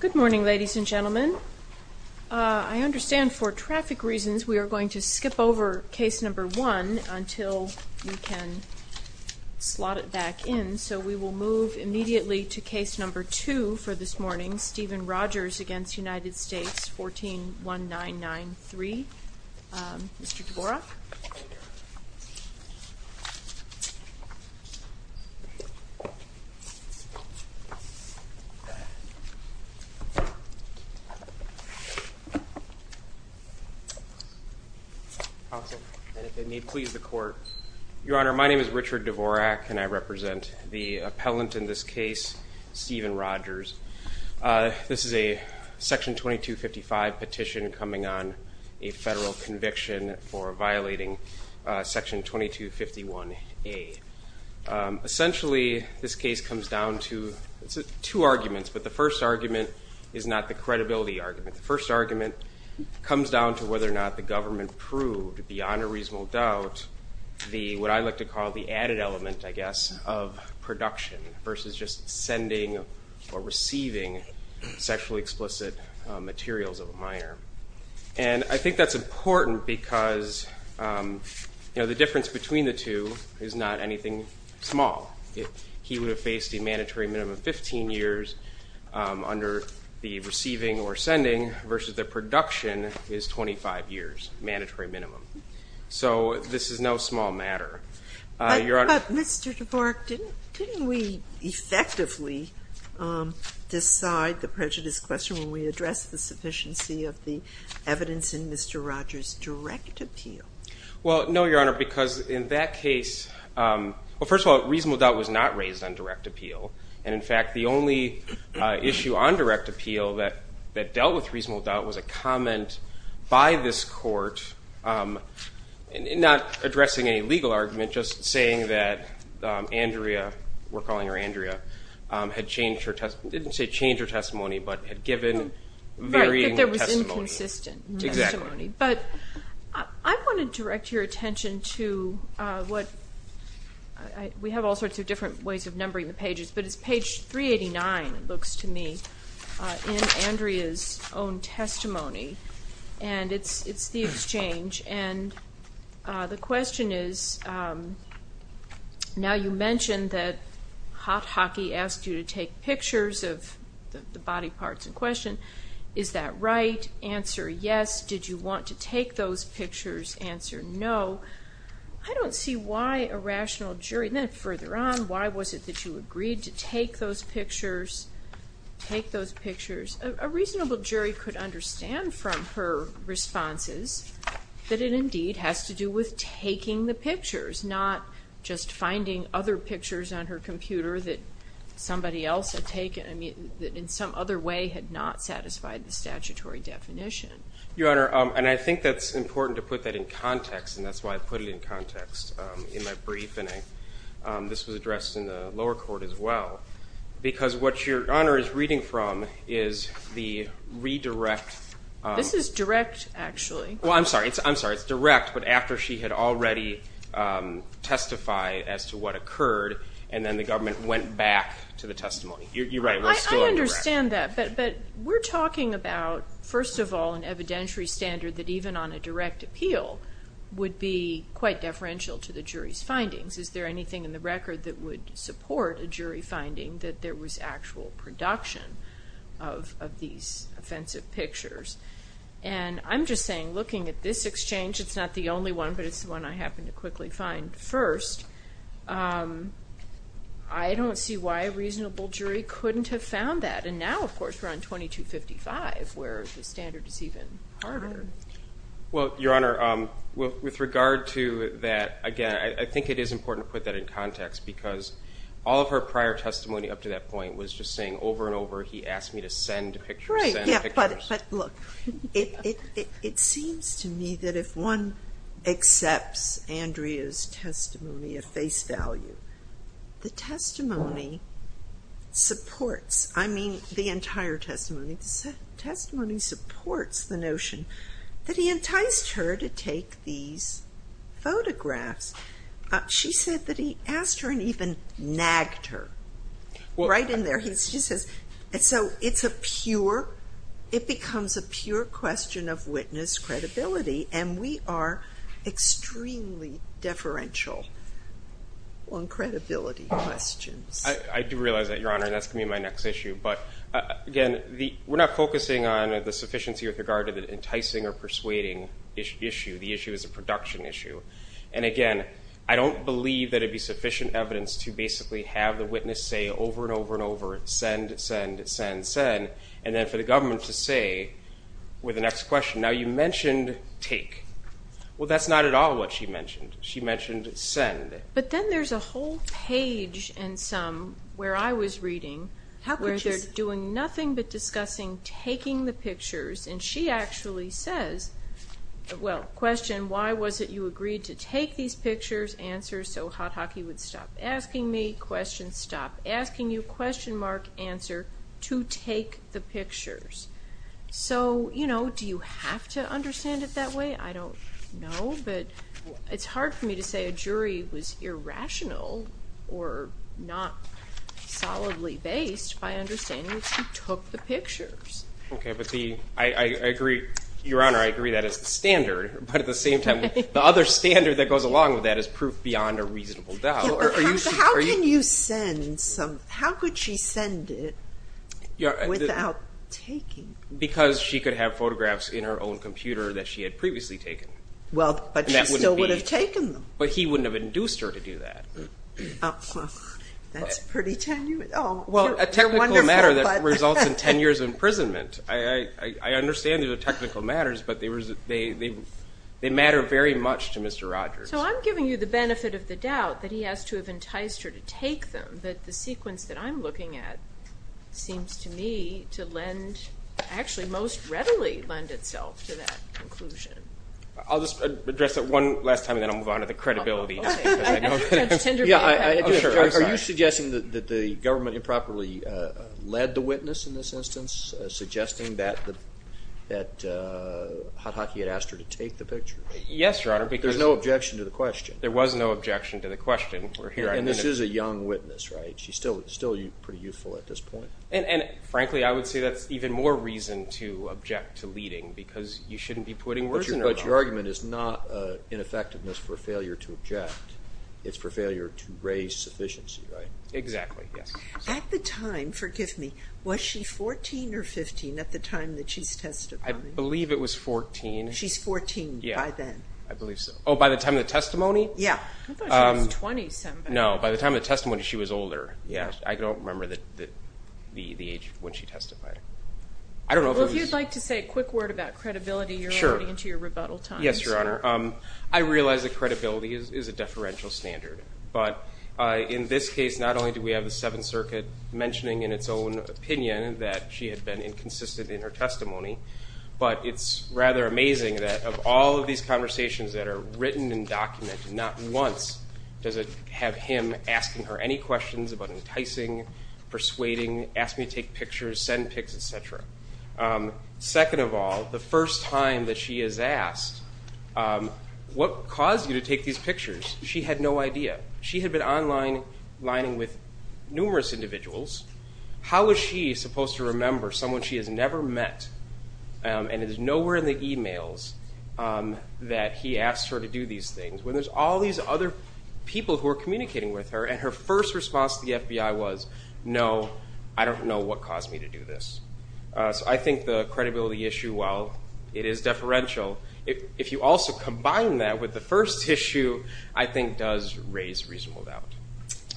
Good morning, ladies and gentlemen. I understand for traffic reasons we are going to skip over Case No. 1 until we can slot it back in. So we will move immediately to Case No. 2 for this morning, Stephen Rogers v. United States, 141993. Mr. Dvorak. Your Honor, my name is Richard Dvorak and I represent the appellant in this case, Stephen Rogers. This is a Section 2255 petition coming on a federal conviction for violating Section 2251A. Essentially, this case comes down to two arguments, but the first argument is not the credibility argument. The first argument comes down to whether or not the government proved, beyond a reasonable doubt, what I like to call the added element, I guess, of production versus just sending or receiving sexually explicit materials of a minor. And I think that's important because, you know, the difference between the two is not anything small. He would have faced a mandatory minimum of 15 years under the receiving or sending versus the production is 25 years, mandatory minimum. So this is no small matter. But, Mr. Dvorak, didn't we effectively decide the prejudice question when we addressed the sufficiency of the evidence in Mr. Rogers' direct appeal? Well, no, Your Honor, because in that case, well, first of all, reasonable doubt was not raised on direct appeal. And, in fact, the only issue on direct appeal that dealt with reasonable doubt was a comment by this court, not addressing any legal argument, just saying that Andrea, we're calling her Andrea, had changed her testimony, didn't say changed her testimony, but had given varying testimony. Right, that there was inconsistent testimony. Exactly. But I want to direct your attention to what we have all sorts of different ways of numbering the pages, but it's page 389, it looks to me, in Andrea's own testimony. And it's the exchange. And the question is, now you mentioned that Hot Hockey asked you to take pictures of the body parts in question. Is that right? Answer, yes. Did you want to take those pictures? Answer, no. I don't see why a rational jury, and then further on, why was it that you agreed to take those pictures, take those pictures? A reasonable jury could understand from her responses that it indeed has to do with taking the pictures, not just finding other pictures on her computer that somebody else had taken, that in some other way had not satisfied the statutory definition. Your Honor, and I think that's important to put that in context, and that's why I put it in context in my brief, and this was addressed in the lower court as well, because what Your Honor is reading from is the redirect. This is direct, actually. Well, I'm sorry, it's direct, but after she had already testified as to what occurred, and then the government went back to the testimony. You're right, we're still on direct. I understand that, but we're talking about, first of all, an evidentiary standard that even on a direct appeal would be quite deferential to the jury's findings. Is there anything in the record that would support a jury finding that there was actual production of these offensive pictures? And I'm just saying, looking at this exchange, it's not the only one, but it's the one I happened to quickly find first, I don't see why a reasonable jury couldn't have found that. And now, of course, we're on 2255, where the standard is even harder. Well, Your Honor, with regard to that, again, I think it is important to put that in context, because all of her prior testimony up to that point was just saying over and over, he asked me to send pictures, send pictures. But look, it seems to me that if one accepts Andrea's testimony of face value, the testimony supports, I mean, the entire testimony, the testimony supports the notion that he enticed her to take these photographs. She said that he asked her and even nagged her. Right in there, he says, and so it's a pure, it becomes a pure question of witness credibility, and we are extremely deferential on credibility questions. I do realize that, Your Honor, and that's going to be my next issue. But, again, we're not focusing on the sufficiency with regard to the enticing or persuading issue. The issue is a production issue. And, again, I don't believe that it would be sufficient evidence to basically have the witness say over and over and over, send, send, send, send, and then for the government to say with the next question, now, you mentioned take. Well, that's not at all what she mentioned. She mentioned send. But then there's a whole page in some where I was reading where they're doing nothing but discussing taking the pictures, and she actually says, well, question, why was it you agreed to take these pictures, answer, so Hot Hockey would stop asking me, question, stop asking you, question mark, answer, to take the pictures. So, you know, do you have to understand it that way? I don't know, but it's hard for me to say a jury was irrational or not solidly based by understanding that she took the pictures. Okay, but the, I agree, Your Honor, I agree that is the standard. But at the same time, the other standard that goes along with that is proof beyond a reasonable doubt. How can you send some, how could she send it without taking? Because she could have photographs in her own computer that she had previously taken. Well, but she still would have taken them. But he wouldn't have induced her to do that. That's pretty tenuous. Well, a technical matter that results in 10 years of imprisonment. I understand there's a technical matter, but they matter very much to Mr. Rogers. So I'm giving you the benefit of the doubt that he has to have enticed her to take them, but the sequence that I'm looking at seems to me to lend, actually, most readily lend itself to that conclusion. I'll just address that one last time, and then I'll move on to the credibility. Okay. Are you suggesting that the government improperly led the witness in this instance, suggesting that Hot Hockey had asked her to take the pictures? Yes, Your Honor. There's no objection to the question. There was no objection to the question. And this is a young witness, right? She's still pretty youthful at this point. And, frankly, I would say that's even more reason to object to leading, because you shouldn't be putting words in her mouth. But your argument is not in effectiveness for failure to object. It's for failure to raise sufficiency, right? Exactly, yes. At the time, forgive me, was she 14 or 15 at the time that she's testifying? I believe it was 14. She's 14 by then? Yeah, I believe so. Oh, by the time of the testimony? Yeah. I thought she was 20-something. No, by the time of the testimony, she was older. I don't remember the age when she testified. Well, if you'd like to say a quick word about credibility, you're already into your rebuttal time. Yes, Your Honor. I realize that credibility is a deferential standard. But in this case, not only do we have the Seventh Circuit mentioning in its own opinion that she had been inconsistent in her testimony, but it's rather amazing that of all of these conversations that are written and documented, not once does it have him asking her any questions about enticing, persuading, ask me to take pictures, send pics, et cetera. Second of all, the first time that she is asked, what caused you to take these pictures? She had no idea. She had been online, lining with numerous individuals. How was she supposed to remember someone she has never met? And it is nowhere in the emails that he asks her to do these things. When there's all these other people who are communicating with her, and her first response to the FBI was, no, I don't know what caused me to do this. So I think the credibility issue, well, it is deferential. If you also combine that with the first issue, I think does raise reasonable doubt.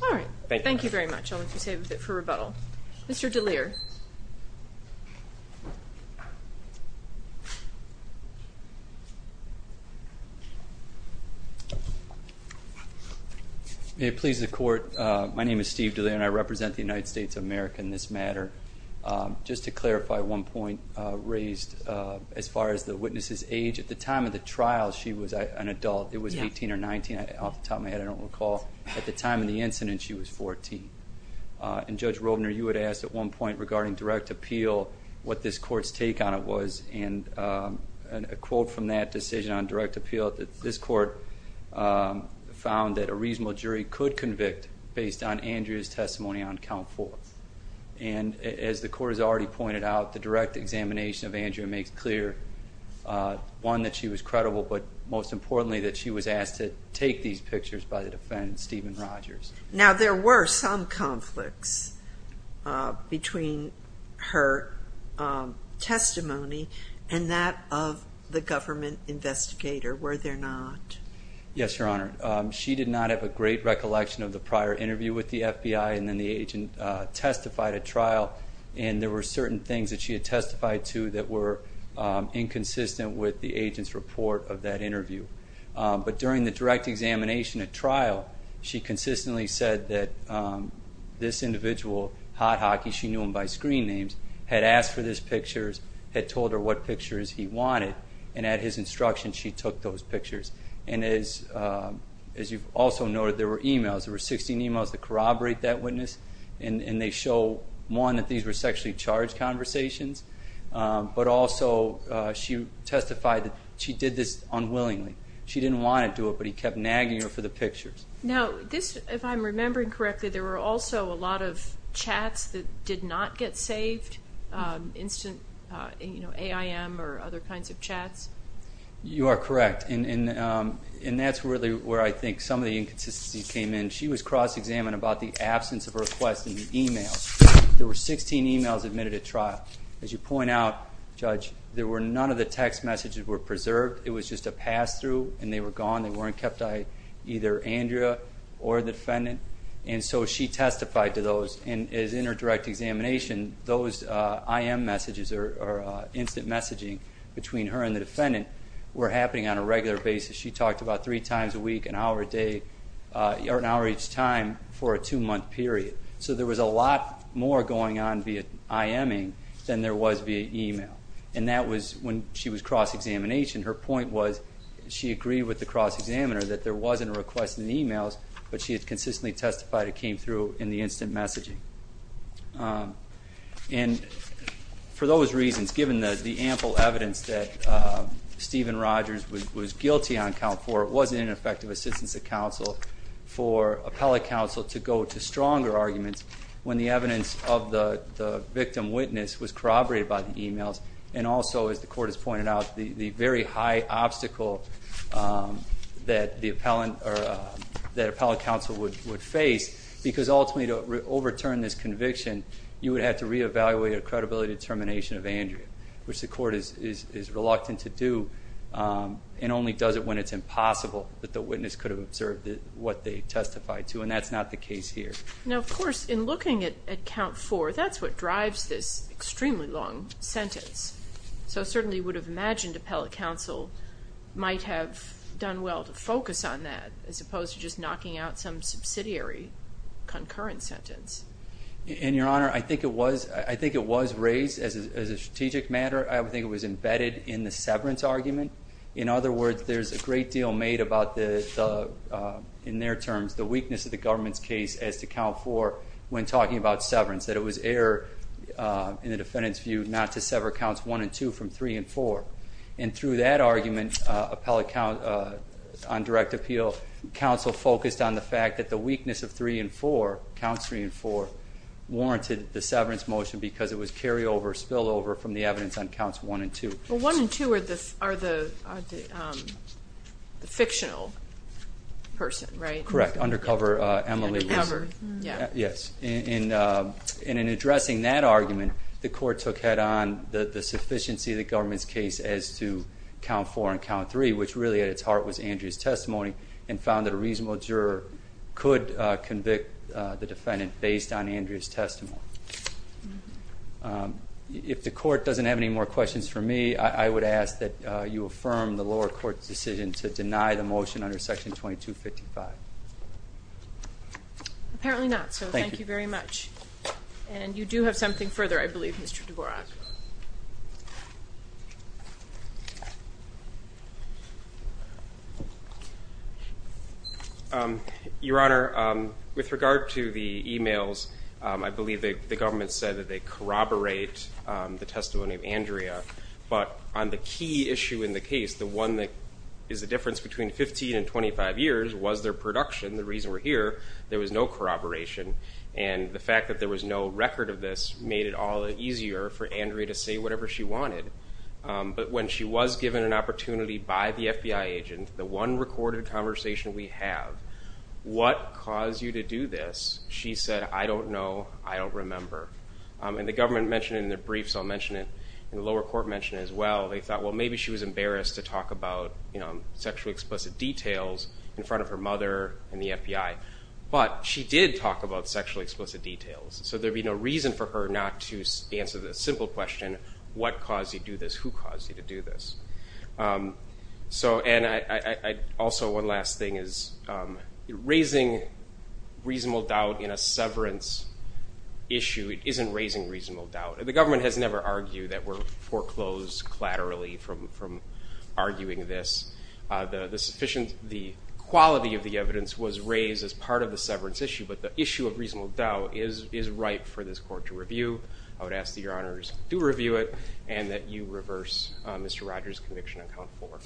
All right. Thank you. Thank you very much. I'll let you stay with it for rebuttal. Mr. DeLear. May it please the Court, my name is Steve DeLear, and I represent the United States of America in this matter. Just to clarify one point raised, as far as the witness's age, at the time of the trial, she was an adult. It was 18 or 19 off the top of my head, I don't recall. At the time of the incident, she was 14. And Judge Robner, you had asked at one point regarding direct appeal what this Court's take on it was, and a quote from that decision on direct appeal, this Court found that a reasonable jury could convict based on Andrea's testimony on count four. And as the Court has already pointed out, the direct examination of Andrea makes clear, one, that she was credible, but most importantly that she was asked to take these pictures by the defendant, Stephen Rogers. Now, there were some conflicts between her testimony and that of the government investigator, were there not? Yes, Your Honor. And then the agent testified at trial, and there were certain things that she had testified to that were inconsistent with the agent's report of that interview. But during the direct examination at trial, she consistently said that this individual, Hot Hockey, she knew him by screen names, had asked for these pictures, had told her what pictures he wanted, and at his instruction she took those pictures. And as you've also noted, there were emails. There were 16 emails that corroborate that witness, and they show, one, that these were sexually charged conversations, but also she testified that she did this unwillingly. She didn't want to do it, but he kept nagging her for the pictures. Now, if I'm remembering correctly, there were also a lot of chats that did not get saved, instant AIM or other kinds of chats? You are correct. And that's really where I think some of the inconsistencies came in. She was cross-examined about the absence of a request in the email. There were 16 emails admitted at trial. As you point out, Judge, there were none of the text messages were preserved. It was just a pass-through, and they were gone. They weren't kept by either Andrea or the defendant. And so she testified to those. And as in her direct examination, those AIM messages or instant messaging between her and the defendant were happening on a regular basis. She talked about three times a week, an hour a day, or an hour each time for a two-month period. So there was a lot more going on via IAMing than there was via email. And that was when she was cross-examination. Her point was she agreed with the cross-examiner that there wasn't a request in the emails, but she had consistently testified it came through in the instant messaging. And for those reasons, given the ample evidence that Stephen Rogers was guilty on count four, it wasn't an effective assistance to counsel for appellate counsel to go to stronger arguments when the evidence of the victim witness was corroborated by the emails. And also, as the Court has pointed out, the very high obstacle that appellate counsel would face because ultimately to overturn this conviction, you would have to reevaluate a credibility determination of Andrea, which the Court is reluctant to do and only does it when it's impossible that the witness could have observed what they testified to, and that's not the case here. Now, of course, in looking at count four, that's what drives this extremely long sentence. So I certainly would have imagined appellate counsel might have done well to focus on that as opposed to just knocking out some subsidiary concurrent sentence. And, Your Honor, I think it was raised as a strategic matter. I think it was embedded in the severance argument. In other words, there's a great deal made about the, in their terms, the weakness of the government's case as to count four when talking about severance, that it was error in the defendant's view not to sever counts one and two from three and four. And through that argument, appellate counsel on direct appeal, counsel focused on the fact that the weakness of three and four, counts three and four, warranted the severance motion because it was carryover, spillover from the evidence on counts one and two. Well, one and two are the fictional person, right? Correct. Undercover Emily Wilson. Undercover, yeah. Yes. And in addressing that argument, the court took head on the sufficiency of the government's case which really at its heart was Andrea's testimony and found that a reasonable juror could convict the defendant based on Andrea's testimony. If the court doesn't have any more questions for me, I would ask that you affirm the lower court's decision to deny the motion under section 2255. Apparently not, so thank you very much. And you do have something further, I believe, Mr. Dvorak. Your Honor, with regard to the emails, I believe the government said that they corroborate the testimony of Andrea. But on the key issue in the case, the one that is the difference between 15 and 25 years was their production. The reason we're here, there was no corroboration. And the fact that there was no record of this made it all easier for Andrea to say whatever she wanted. But when she was given an opportunity by the FBI agent, the one recorded conversation we have, what caused you to do this? She said, I don't know, I don't remember. And the government mentioned it in their brief, so I'll mention it, and the lower court mentioned it as well. They thought, well, maybe she was embarrassed to talk about sexually explicit details in front of her mother and the FBI. But she did talk about sexually explicit details, so there'd be no reason for her not to answer the simple question, what caused you to do this, who caused you to do this? And also one last thing is, raising reasonable doubt in a severance issue isn't raising reasonable doubt. The government has never argued that we're foreclosed collaterally from arguing this. The quality of the evidence was raised as part of the severance issue, but the issue of reasonable doubt is right for this court to review. I would ask that your honors do review it and that you reverse Mr. Rogers' conviction on count four.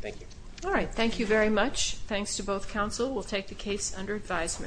Thank you. All right, thank you very much. Thanks to both counsel. We'll take the case under advisement.